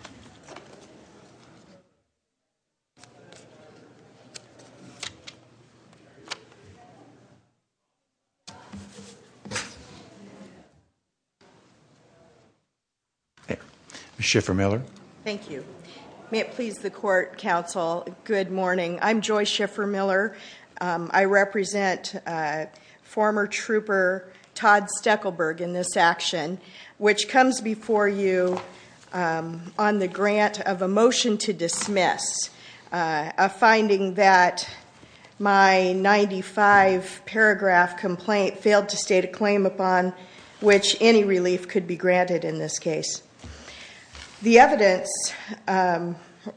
Joyce Schiffer-Miller Thank you. May it please the court, counsel, good morning. I'm Joyce Schiffer-Miller. I represent former trooper Todd Steckelberg in this action, which comes before you on the grant of a motion to dismiss, a finding that my 95-paragraph complaint failed to state a claim upon which any relief could be granted in this case. The evidence,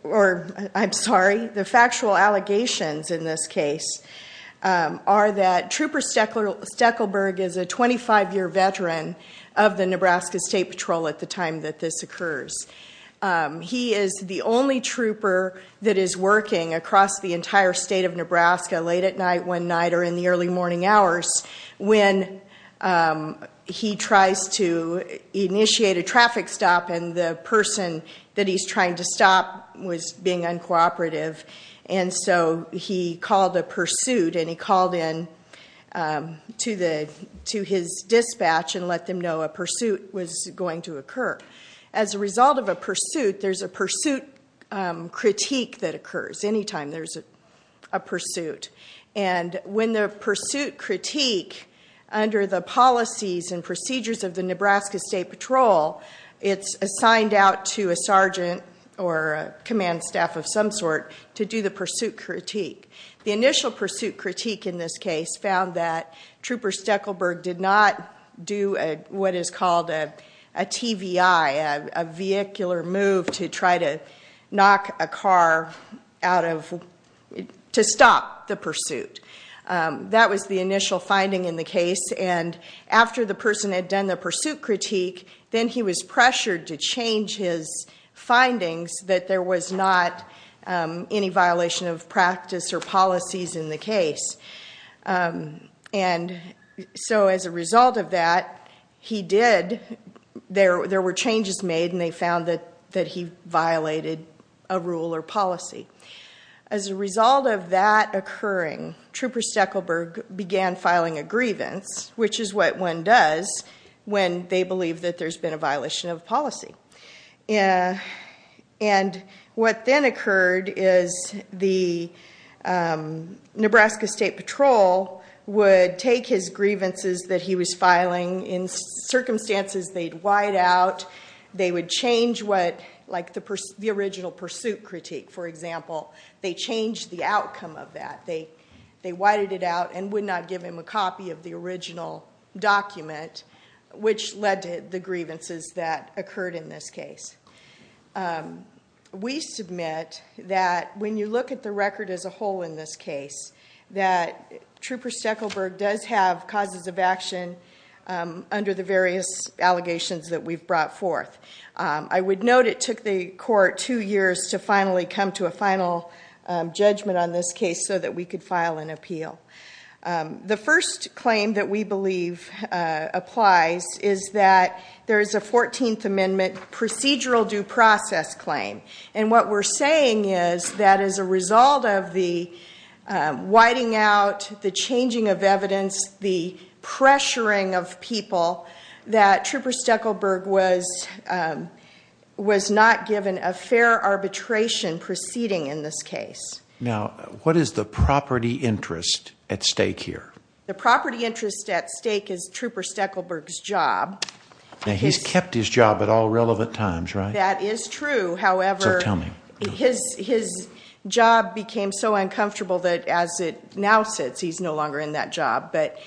or I'm sorry, the factual allegations in this case are that Trooper Steckelberg is a 25-year veteran of the Nebraska State Patrol at the time that this occurs. He is the only trooper that is working across the entire state of Nebraska late at night, one night, or in the early morning hours when he tries to initiate a traffic stop and the person that he's trying to stop was being uncooperative. And so he called a pursuit and he called in to his dispatch and let them know a pursuit was going to occur. As a result of a pursuit, there's a pursuit critique that occurs any time there's a pursuit. And when the pursuit critique, under the policies and procedures of the Nebraska State Patrol, it's assigned out to a sergeant or a command staff of some sort to do the pursuit critique. The initial pursuit critique in this case found that Trooper Steckelberg did not do what is called a TVI, a vehicular move to try to knock a car out of, to stop the pursuit. That was the initial finding in the case. And after the person had done the pursuit critique, then he was pressured to change his findings that there was not any violation of practice or policies in the case. And so as a result of that, he did. There were changes made and they found that he violated a rule or policy. As a result of that occurring, Trooper Steckelberg began filing a grievance, which is what one does when they believe that there's been a violation of policy. And what then occurred is the Nebraska State Patrol would take his grievances that he was filing. In circumstances, they'd wide out. They would change what, like the original pursuit critique, for example. They changed the outcome of that. They widened it out and would not give him a copy of the original document, which led to the grievances that occurred in this case. We submit that when you look at the record as a whole in this case, that Trooper Steckelberg does have causes of action under the various allegations that we've brought forth. I would note it took the court two years to finally come to a final judgment on this case so that we could file an appeal. The first claim that we believe applies is that there is a 14th Amendment procedural due process claim. And what we're saying is that as a result of the widening out, the changing of evidence, the pressuring of people, that Trooper Steckelberg was not given a fair arbitration proceeding in this case. Now, what is the property interest at stake here? The property interest at stake is Trooper Steckelberg's job. Now, he's kept his job at all relevant times, right? That is true. So tell me. His job became so uncomfortable that as it now sits, he's no longer in that job. But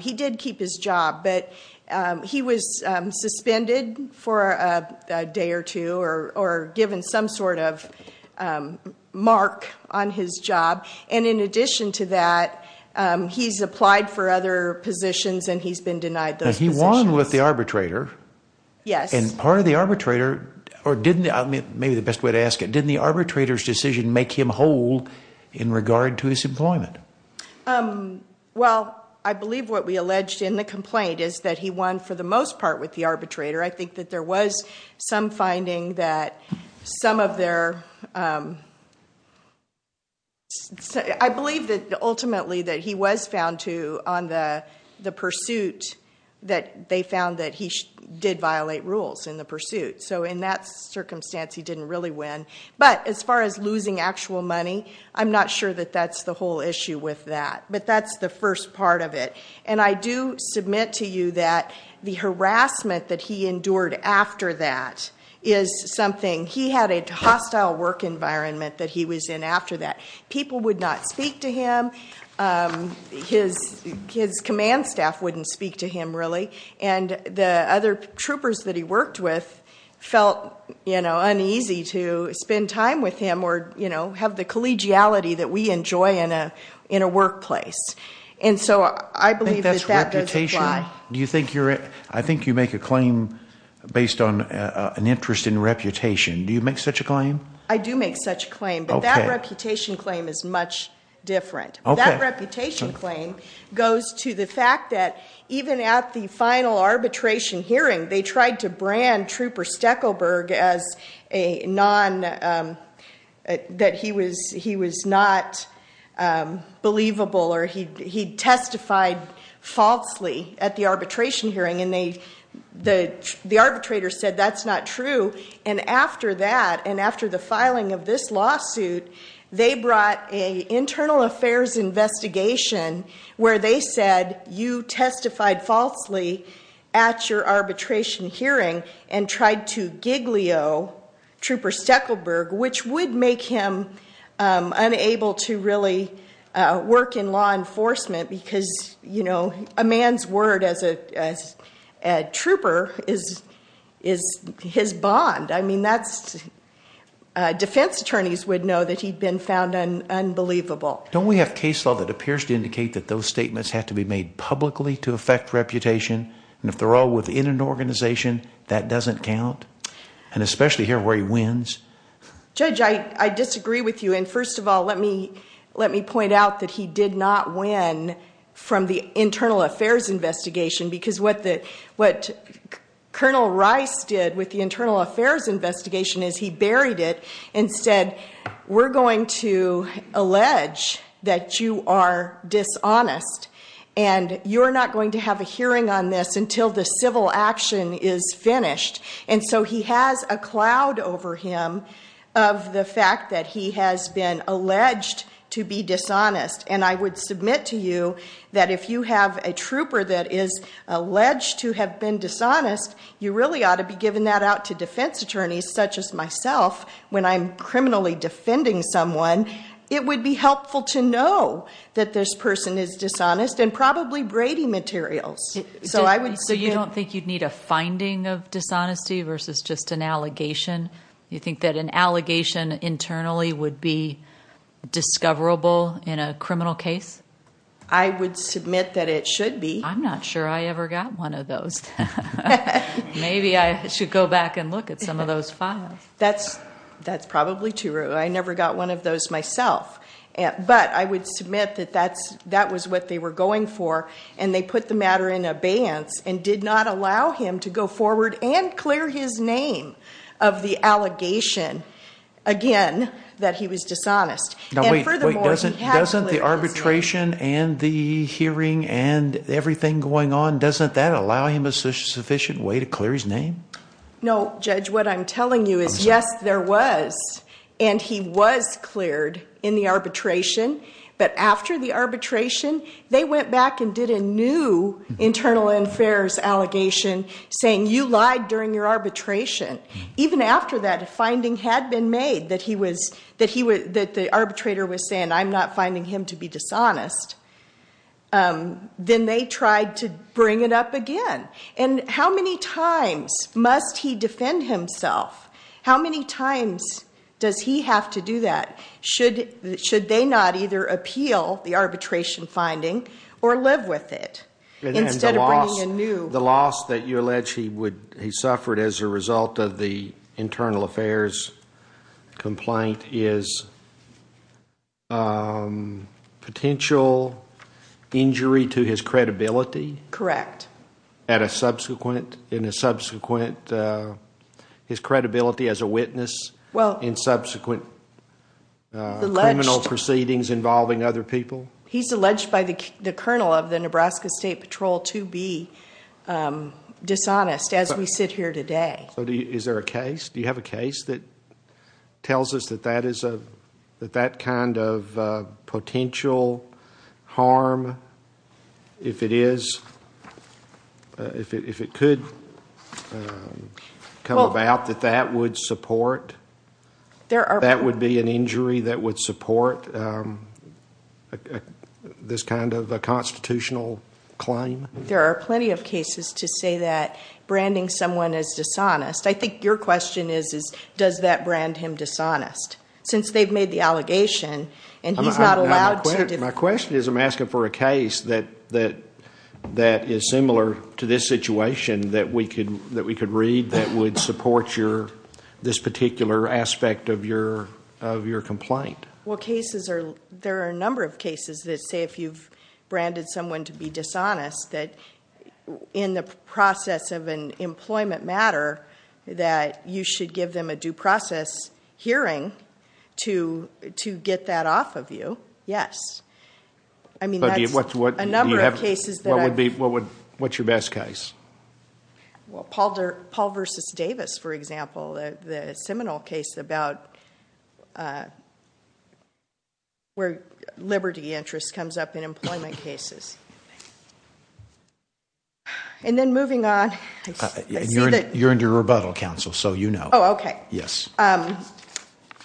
he did keep his job, but he was suspended for a day or two or given some sort of mark on his job. And in addition to that, he's applied for other positions and he's been denied those positions. But he won with the arbitrator. Yes. And part of the arbitrator, or maybe the best way to ask it, didn't the arbitrator's decision make him whole in regard to his employment? Well, I believe what we alleged in the complaint is that he won for the most part with the arbitrator. I think that there was some finding that some of their—I believe that ultimately that he was found to, on the pursuit, that they found that he did violate rules in the pursuit. So in that circumstance, he didn't really win. But as far as losing actual money, I'm not sure that that's the whole issue with that. But that's the first part of it. And I do submit to you that the harassment that he endured after that is something—he had a hostile work environment that he was in after that. People would not speak to him. His command staff wouldn't speak to him, really. And the other troopers that he worked with felt uneasy to spend time with him or have the collegiality that we enjoy in a workplace. And so I believe that that doesn't apply. Do you think you're—I think you make a claim based on an interest in reputation. Do you make such a claim? I do make such a claim. But that reputation claim is much different. That reputation claim goes to the fact that even at the final arbitration hearing, they tried to brand Trooper Steckelberg as a non—that he was not believable or he testified falsely at the arbitration hearing. And the arbitrator said that's not true. And after that and after the filing of this lawsuit, they brought an internal affairs investigation where they said you testified falsely at your arbitration hearing and tried to giglio Trooper Steckelberg, which would make him unable to really work in law enforcement because, you know, a man's word as a trooper is his bond. I mean, that's—defense attorneys would know that he'd been found unbelievable. Don't we have case law that appears to indicate that those statements have to be made publicly to affect reputation? And if they're all within an organization, that doesn't count? And especially here where he wins? Judge, I disagree with you. And first of all, let me point out that he did not win from the internal affairs investigation because what Colonel Rice did with the internal affairs investigation is he buried it and said we're going to allege that you are dishonest. And you're not going to have a hearing on this until the civil action is finished. And so he has a cloud over him of the fact that he has been alleged to be dishonest. And I would submit to you that if you have a trooper that is alleged to have been dishonest, you really ought to be giving that out to defense attorneys such as myself when I'm criminally defending someone. It would be helpful to know that this person is dishonest and probably Brady materials. So you don't think you'd need a finding of dishonesty versus just an allegation? You think that an allegation internally would be discoverable in a criminal case? I would submit that it should be. I'm not sure I ever got one of those. Maybe I should go back and look at some of those files. That's probably true. I never got one of those myself. But I would submit that that was what they were going for. And they put the matter in abeyance and did not allow him to go forward and clear his name of the allegation, again, that he was dishonest. Wait, doesn't the arbitration and the hearing and everything going on, doesn't that allow him a sufficient way to clear his name? No, Judge. What I'm telling you is, yes, there was, and he was cleared in the arbitration. But after the arbitration, they went back and did a new internal affairs allegation saying, you lied during your arbitration. Even after that, a finding had been made that the arbitrator was saying, I'm not finding him to be dishonest. Then they tried to bring it up again. And how many times must he defend himself? How many times does he have to do that? Should they not either appeal the arbitration finding or live with it instead of bringing a new? The loss that you allege he suffered as a result of the internal affairs complaint is potential injury to his credibility? Correct. At a subsequent, in a subsequent, his credibility as a witness in subsequent criminal proceedings involving other people? He's alleged by the Colonel of the Nebraska State Patrol to be dishonest as we sit here today. So is there a case? Do you have a case that tells us that that is a, that that kind of potential harm, if it is, if it could come about, that that would support, that would be an injury that would support this kind of a constitutional claim? There are plenty of cases to say that branding someone as dishonest. I think your question is, is does that brand him dishonest? Since they've made the allegation and he's not allowed to. My question is, I'm asking for a case that, that, that is similar to this situation that we could, that we could read that would support your, this particular aspect of your, of your complaint. Well, cases are, there are a number of cases that say if you've branded someone to be dishonest that in the process of an employment matter that you should give them a due process hearing to, to get that off of you. Yes. I mean, that's a number of cases that are. What would be, what would, what's your best case? Well, Paul versus Davis, for example, the Seminole case about where liberty interest comes up in employment cases. And then moving on. You're under rebuttal, counsel, so you know. Oh, okay. Yes.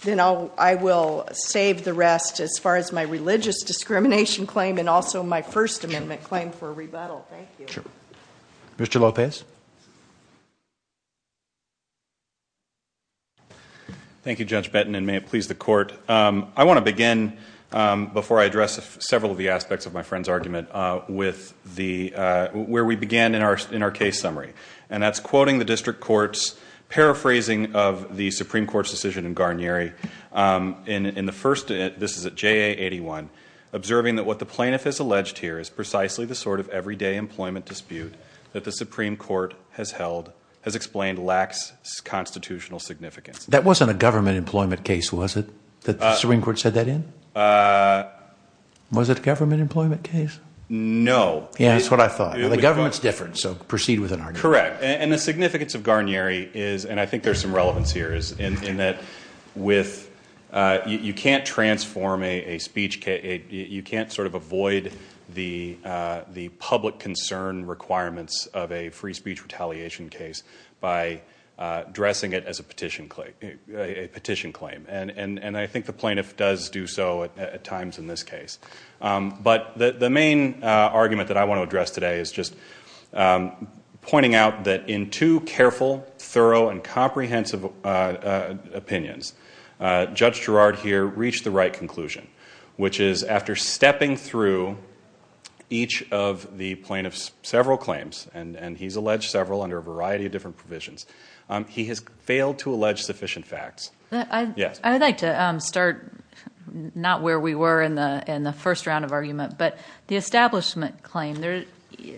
Then I'll, I will save the rest as far as my religious discrimination claim and also my First Amendment claim for rebuttal. Thank you. Sure. Mr. Lopez. Thank you, Judge Benton, and may it please the court. I want to begin, before I address several of the aspects of my friend's argument, with the, where we began in our, in our case summary. And that's quoting the district court's paraphrasing of the Supreme Court's decision in Garnieri. In the first, this is at JA81, observing that what the plaintiff has alleged here is precisely the sort of everyday employment dispute that the Supreme Court has held, has explained lacks constitutional significance. That wasn't a government employment case, was it, that the Supreme Court said that in? Was it a government employment case? Yeah, that's what I thought. The government's different, so proceed with an argument. Correct. And the significance of Garnieri is, and I think there's some relevance here, is in that with, you can't transform a speech, you can't sort of avoid the public concern requirements of a free speech retaliation case by dressing it as a petition claim. And I think the plaintiff does do so at times in this case. But the main argument that I want to address today is just pointing out that in two careful, thorough, and comprehensive opinions, Judge Girard here reached the right conclusion, which is after stepping through each of the plaintiff's several claims, and he's alleged several under a variety of different provisions, he has failed to allege sufficient facts. I'd like to start, not where we were in the first round of argument, but the establishment claim.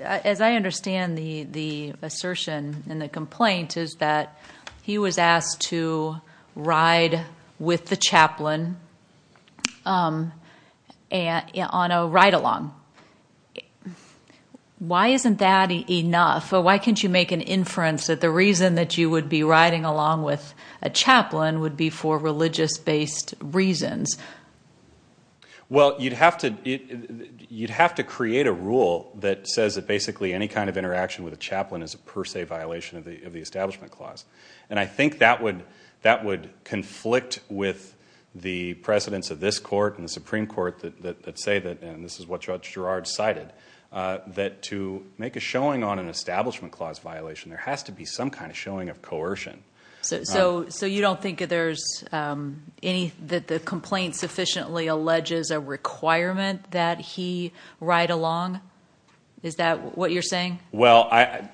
As I understand the assertion in the complaint is that he was asked to ride with the chaplain on a ride-along. Why isn't that enough? Why can't you make an inference that the reason that you would be riding along with a chaplain would be for religious-based reasons? Well, you'd have to create a rule that says that basically any kind of interaction with a chaplain is a per se violation of the Establishment Clause. And I think that would conflict with the precedents of this court and the Supreme Court that say that, and this is what Judge Girard cited, that to make a showing on an Establishment Clause violation, there has to be some kind of showing of coercion. So you don't think that the complaint sufficiently alleges a requirement that he ride along? Is that what you're saying? Well,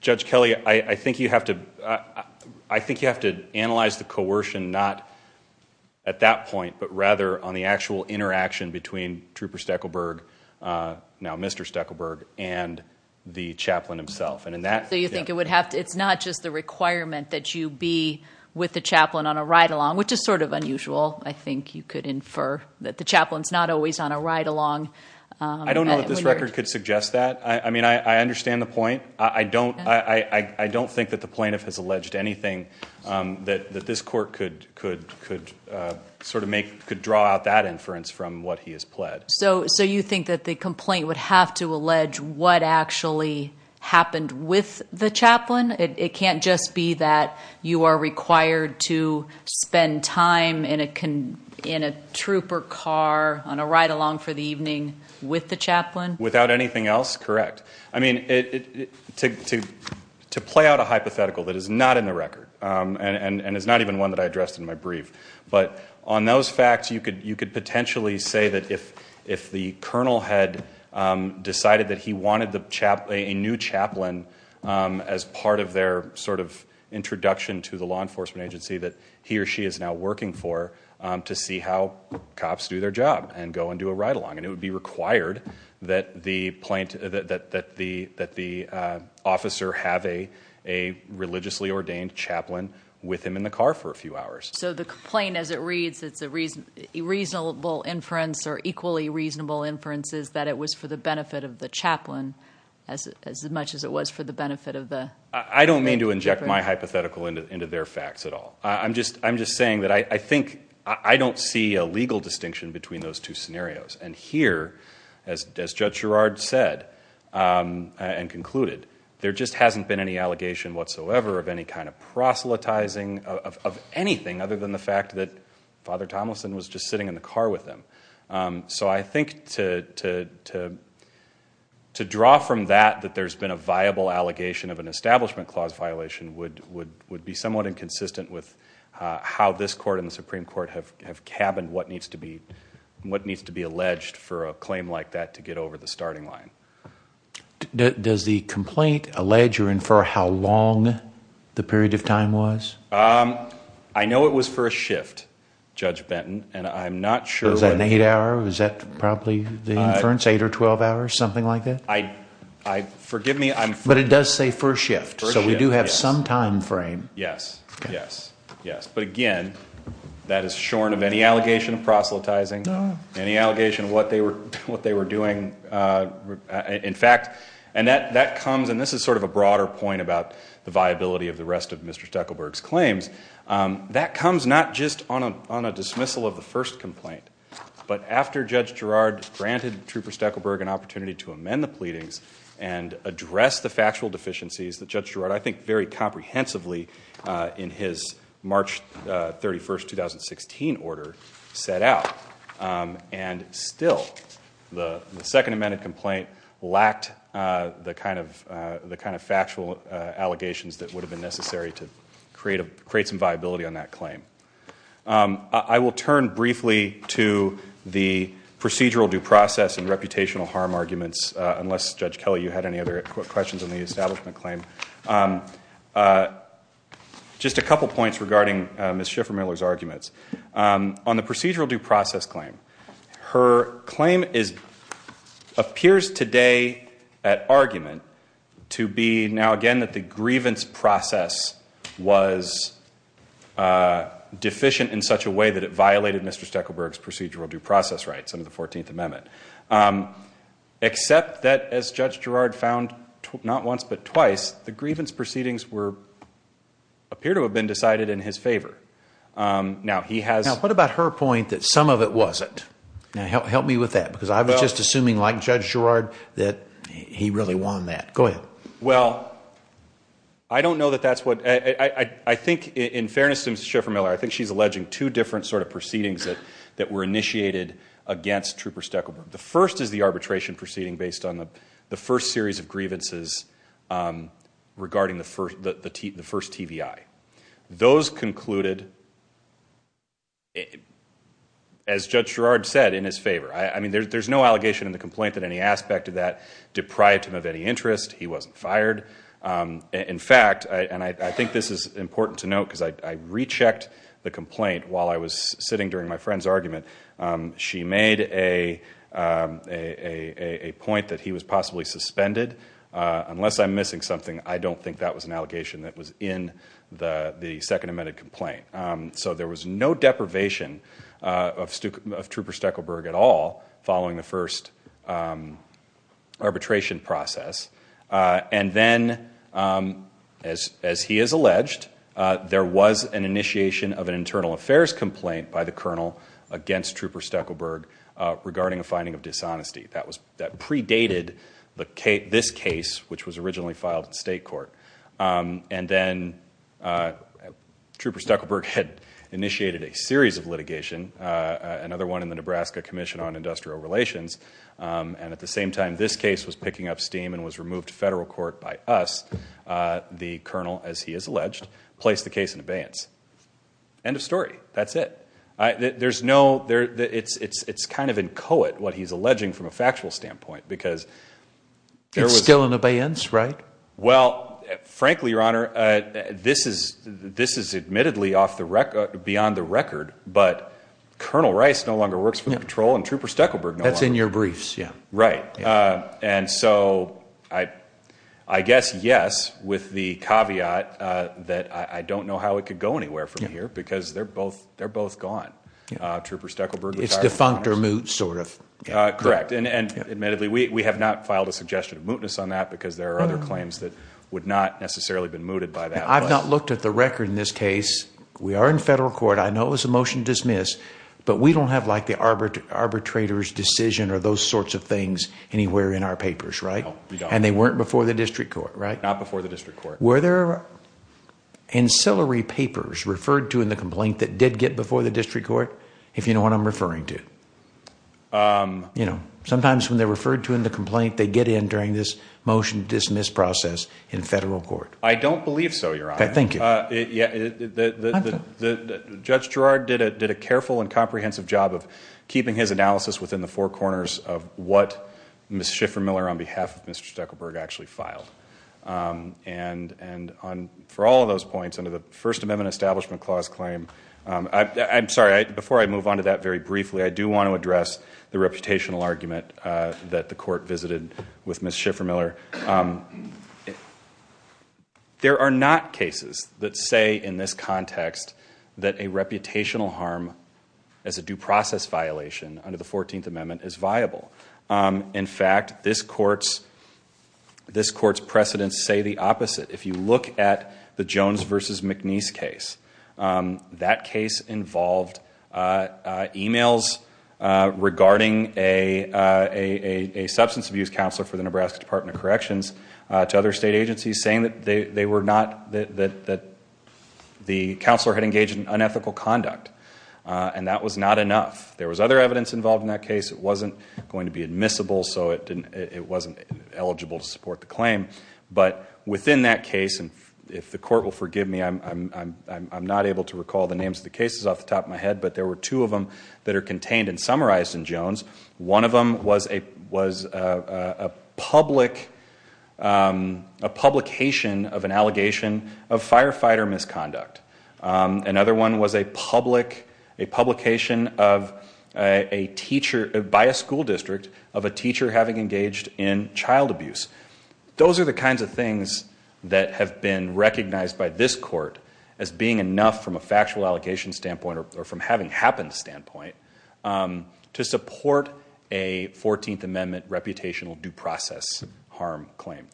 Judge Kelly, I think you have to analyze the coercion not at that point, but rather on the actual interaction between Trooper Steckelberg, now Mr. Steckelberg, and the chaplain himself. So you think it's not just the requirement that you be with the chaplain on a ride-along, which is sort of unusual, I think you could infer, that the chaplain's not always on a ride-along. I don't know that this record could suggest that. I mean, I understand the point. I don't think that the plaintiff has alleged anything that this court could sort of make, could draw out that inference from what he has pled. So you think that the complaint would have to allege what actually happened with the chaplain? It can't just be that you are required to spend time in a trooper car on a ride-along for the evening with the chaplain? Without anything else, correct. I mean, to play out a hypothetical that is not in the record, and is not even one that I addressed in my brief. But on those facts, you could potentially say that if the colonel had decided that he wanted a new chaplain as part of their sort of introduction to the law enforcement agency that he or she is now working for, to see how cops do their job and go and do a ride-along. And it would be required that the officer have a religiously ordained chaplain with him in the car for a few hours. So the complaint, as it reads, it's a reasonable inference, or equally reasonable inference, is that it was for the benefit of the chaplain as much as it was for the benefit of the- I don't mean to inject my hypothetical into their facts at all. I'm just saying that I think I don't see a legal distinction between those two scenarios. And here, as Judge Girard said and concluded, there just hasn't been any allegation whatsoever of any kind of proselytizing of anything other than the fact that Father Tomlinson was just sitting in the car with him. So I think to draw from that that there's been a viable allegation of an establishment clause violation would be somewhat inconsistent with how this court and the Supreme Court have cabined what needs to be alleged for a claim like that to get over the starting line. Does the complaint allege or infer how long the period of time was? I know it was for a shift, Judge Benton, and I'm not sure- An eight hour, was that probably the inference? Eight or twelve hours, something like that? I, forgive me, I'm- But it does say first shift. First shift, yes. So we do have some time frame. Yes, yes, yes. But again, that is shorn of any allegation of proselytizing, any allegation of what they were doing. In fact, and that comes, and this is sort of a broader point about the viability of the rest of Mr. Steckelberg's claims, that comes not just on a dismissal of the first complaint, but after Judge Girard granted Trooper Steckelberg an opportunity to amend the pleadings and address the factual deficiencies that Judge Girard, I think very comprehensively in his March 31st, 2016 order, set out. And still, the second amended complaint lacked the kind of factual allegations that would have been necessary to create some viability on that claim. I will turn briefly to the procedural due process and reputational harm arguments, unless Judge Kelly, you had any other questions on the establishment claim. Just a couple points regarding Ms. Schiffer-Miller's arguments. On the procedural due process claim, her claim appears today at argument to be, now again, that the grievance process was deficient in such a way that it violated Mr. Steckelberg's procedural due process rights under the 14th Amendment. Except that, as Judge Girard found not once but twice, the grievance proceedings appear to have been decided in his favor. Now, he has- Now, what about her point that some of it wasn't? Now, help me with that, because I was just assuming, like Judge Girard, that he really won that. Go ahead. Well, I don't know that that's what- I think, in fairness to Ms. Schiffer-Miller, I think she's alleging two different sort of proceedings that were initiated against Trooper Steckelberg. The first is the arbitration proceeding based on the first series of grievances regarding the first TVI. Those concluded, as Judge Girard said, in his favor. I mean, there's no allegation in the complaint that any aspect of that deprived him of any interest. He wasn't fired. In fact, and I think this is important to note because I rechecked the complaint while I was sitting during my friend's argument. She made a point that he was possibly suspended. Unless I'm missing something, I don't think that was an allegation that was in the second amended complaint. So there was no deprivation of Trooper Steckelberg at all following the first arbitration process. And then, as he has alleged, there was an initiation of an internal affairs complaint by the colonel against Trooper Steckelberg regarding a finding of dishonesty. That predated this case, which was originally filed in state court. And then Trooper Steckelberg had initiated a series of litigation, another one in the Nebraska Commission on Industrial Relations. And at the same time, this case was picking up steam and was removed to federal court by us, the colonel, as he has alleged, placed the case in abeyance. End of story. That's it. There's no there. It's it's it's kind of inchoate what he's alleging from a factual standpoint, because there was still an abeyance. Right. Well, frankly, your honor, this is this is admittedly off the record beyond the record. But Colonel Rice no longer works for the patrol and Trooper Steckelberg. That's in your briefs. Yeah, right. And so I, I guess. Yes. With the caveat that I don't know how it could go anywhere from here because they're both they're both gone. Trooper Steckelberg is defunct or moot, sort of correct. And admittedly, we have not filed a suggestion of mootness on that because there are other claims that would not necessarily been mooted by that. I've not looked at the record in this case. We are in federal court. I know it was a motion to dismiss, but we don't have like the arbiter arbitrators decision or those sorts of things anywhere in our papers. Right. And they weren't before the district court. Right. Not before the district court. Were there ancillary papers referred to in the complaint that did get before the district court? If you know what I'm referring to, you know, sometimes when they're referred to in the complaint, they get in during this motion dismiss process in federal court. I don't believe so. You're right. Thank you. The judge Gerard did it, did a careful and comprehensive job of keeping his analysis within the four corners of what Miss Schiffer Miller, on behalf of Mr. Steckelberg, actually filed and and on for all of those points under the First Amendment Establishment Clause claim. I'm sorry. Before I move on to that very briefly, I do want to address the reputational argument that the court visited with Miss Schiffer Miller. There are not cases that say in this context that a reputational harm as a due process violation under the 14th Amendment is viable. In fact, this court's this court's precedents say the opposite. If you look at the Jones versus McNeese case, that case involved e-mails regarding a substance abuse counselor for the Nebraska Department of Corrections to other state agencies saying that the counselor had engaged in unethical conduct, and that was not enough. There was other evidence involved in that case. It wasn't going to be admissible, so it wasn't eligible to support the claim. But within that case, and if the court will forgive me, I'm not able to recall the names of the cases off the top of my head, but there were two of them that are contained and summarized in Jones. One of them was a was a public a publication of an allegation of firefighter misconduct. Another one was a public a publication of a teacher by a school district of a teacher having engaged in child abuse. Those are the kinds of things that have been recognized by this court as being enough from a factual allocation standpoint or from having happened standpoint to support a 14th Amendment reputational due process harm claim.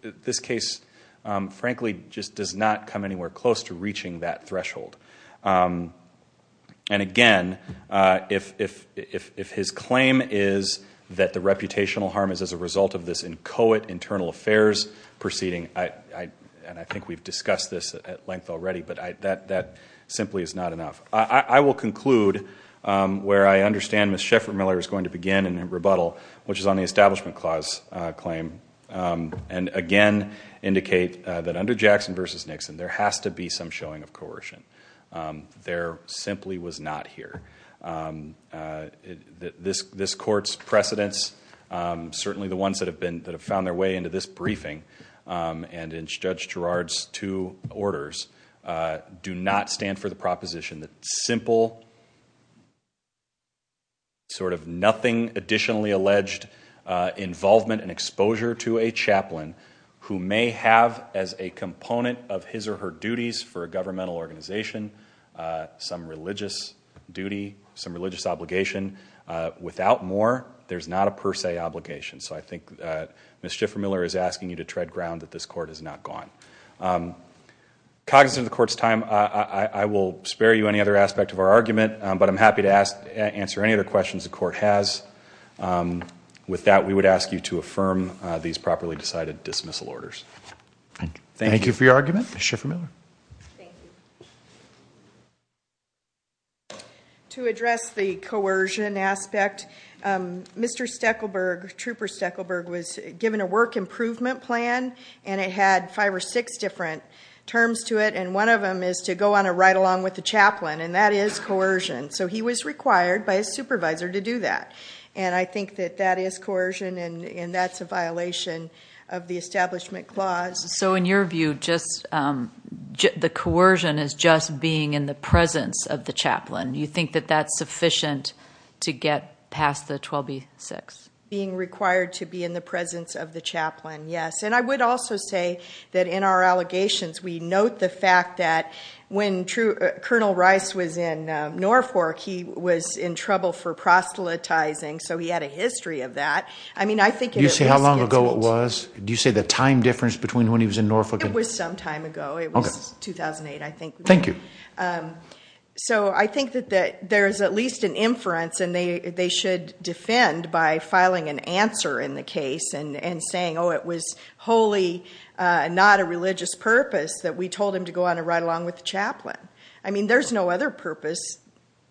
This case, frankly, just does not come anywhere close to reaching that threshold. And again, if his claim is that the reputational harm is as a result of this inchoate internal affairs proceeding, and I think we've discussed this at length already, but that simply is not enough. I will conclude where I understand Ms. Sheffert-Miller is going to begin in her rebuttal, which is on the Establishment Clause claim, and again, indicate that under Jackson versus Nixon, there has to be some showing of coercion. There simply was not here. This court's precedents, certainly the ones that have been that have found their way into this briefing and in Judge Girard's two orders, do not stand for the proposition that simple, sort of nothing additionally alleged involvement and exposure to a chaplain who may have as a component of his or her duties for a governmental organization some religious duty, some religious obligation. Without more, there's not a per se obligation. So I think Ms. Sheffert-Miller is asking you to tread ground that this court is not gone. Cognizant of the court's time, I will spare you any other aspect of our argument, but I'm happy to answer any other questions the court has. With that, we would ask you to affirm these properly decided dismissal orders. Thank you. Thank you for your argument. Ms. Sheffert-Miller. Thank you. To address the coercion aspect, Mr. Steckelberg, Trooper Steckelberg, was given a work improvement plan, and it had five or six different terms to it, and one of them is to go on a ride-along with the chaplain, and that is coercion. So he was required by his supervisor to do that, and I think that that is coercion, and that's a violation of the Establishment Clause. So in your view, the coercion is just being in the presence of the chaplain. Do you think that that's sufficient to get past the 12B-6? Being required to be in the presence of the chaplain, yes. And I would also say that in our allegations, we note the fact that when Colonel Rice was in Norfolk, he was in trouble for proselytizing, so he had a history of that. I mean, I think it is misconstrued. Do you see how long ago it was? Do you see the time difference between when he was in Norfolk? It was some time ago. It was 2008, I think. Thank you. So I think that there is at least an inference, and they should defend by filing an answer in the case and saying, oh, it was wholly not a religious purpose that we told him to go on a ride-along with the chaplain. I mean, there's no other purpose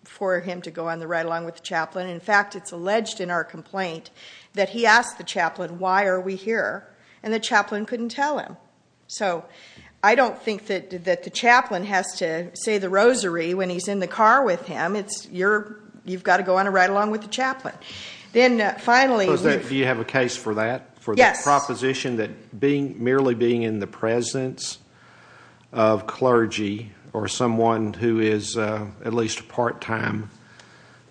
for him to go on the ride-along with the chaplain. In fact, it's alleged in our complaint that he asked the chaplain, why are we here, and the chaplain couldn't tell him. So I don't think that the chaplain has to say the rosary when he's in the car with him. You've got to go on a ride-along with the chaplain. Do you have a case for that, for the proposition that merely being in the presence of clergy or someone who is at least a part-time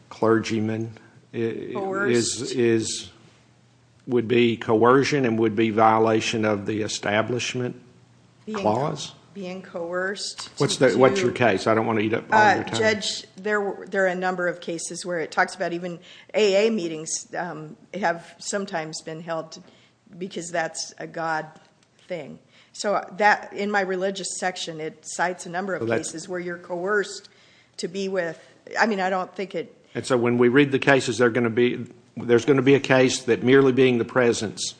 clergyman would be coercion and would be violation of the establishment clause? Being coerced. What's your case? Judge, there are a number of cases where it talks about even AA meetings have sometimes been held because that's a God thing. So in my religious section, it cites a number of cases where you're coerced to be with. I mean, I don't think it. And so when we read the cases, there's going to be a case that merely being the presence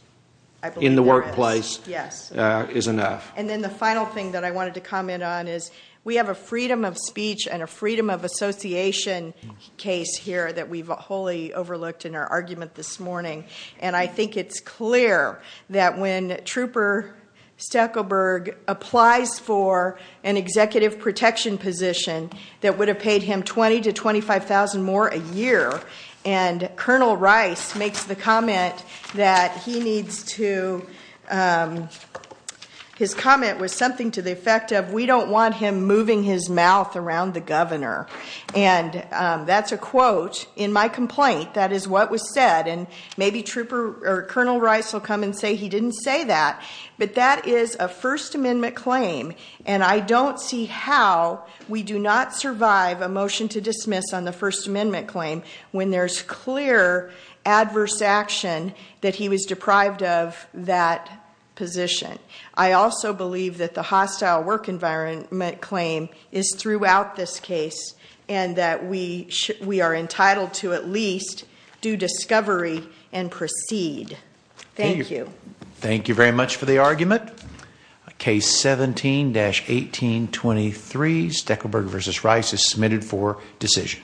in the workplace is enough. And then the final thing that I wanted to comment on is we have a freedom of speech and a freedom of association case here that we've wholly overlooked in our argument this morning, and I think it's clear that when Trooper Stackelberg applies for an executive protection position that would have paid him $20,000 to $25,000 more a year, and Colonel Rice makes the comment that he needs to, his comment was something to the effect of, we don't want him moving his mouth around the governor. And that's a quote in my complaint. That is what was said, and maybe Colonel Rice will come and say he didn't say that, but that is a First Amendment claim, and I don't see how we do not survive a motion to dismiss on the First Amendment claim when there's clear adverse action that he was deprived of that position. I also believe that the hostile work environment claim is throughout this case and that we are entitled to at least do discovery and proceed. Thank you. Thank you very much for the argument. Case 17-1823, Stackelberg v. Rice, is submitted for decision.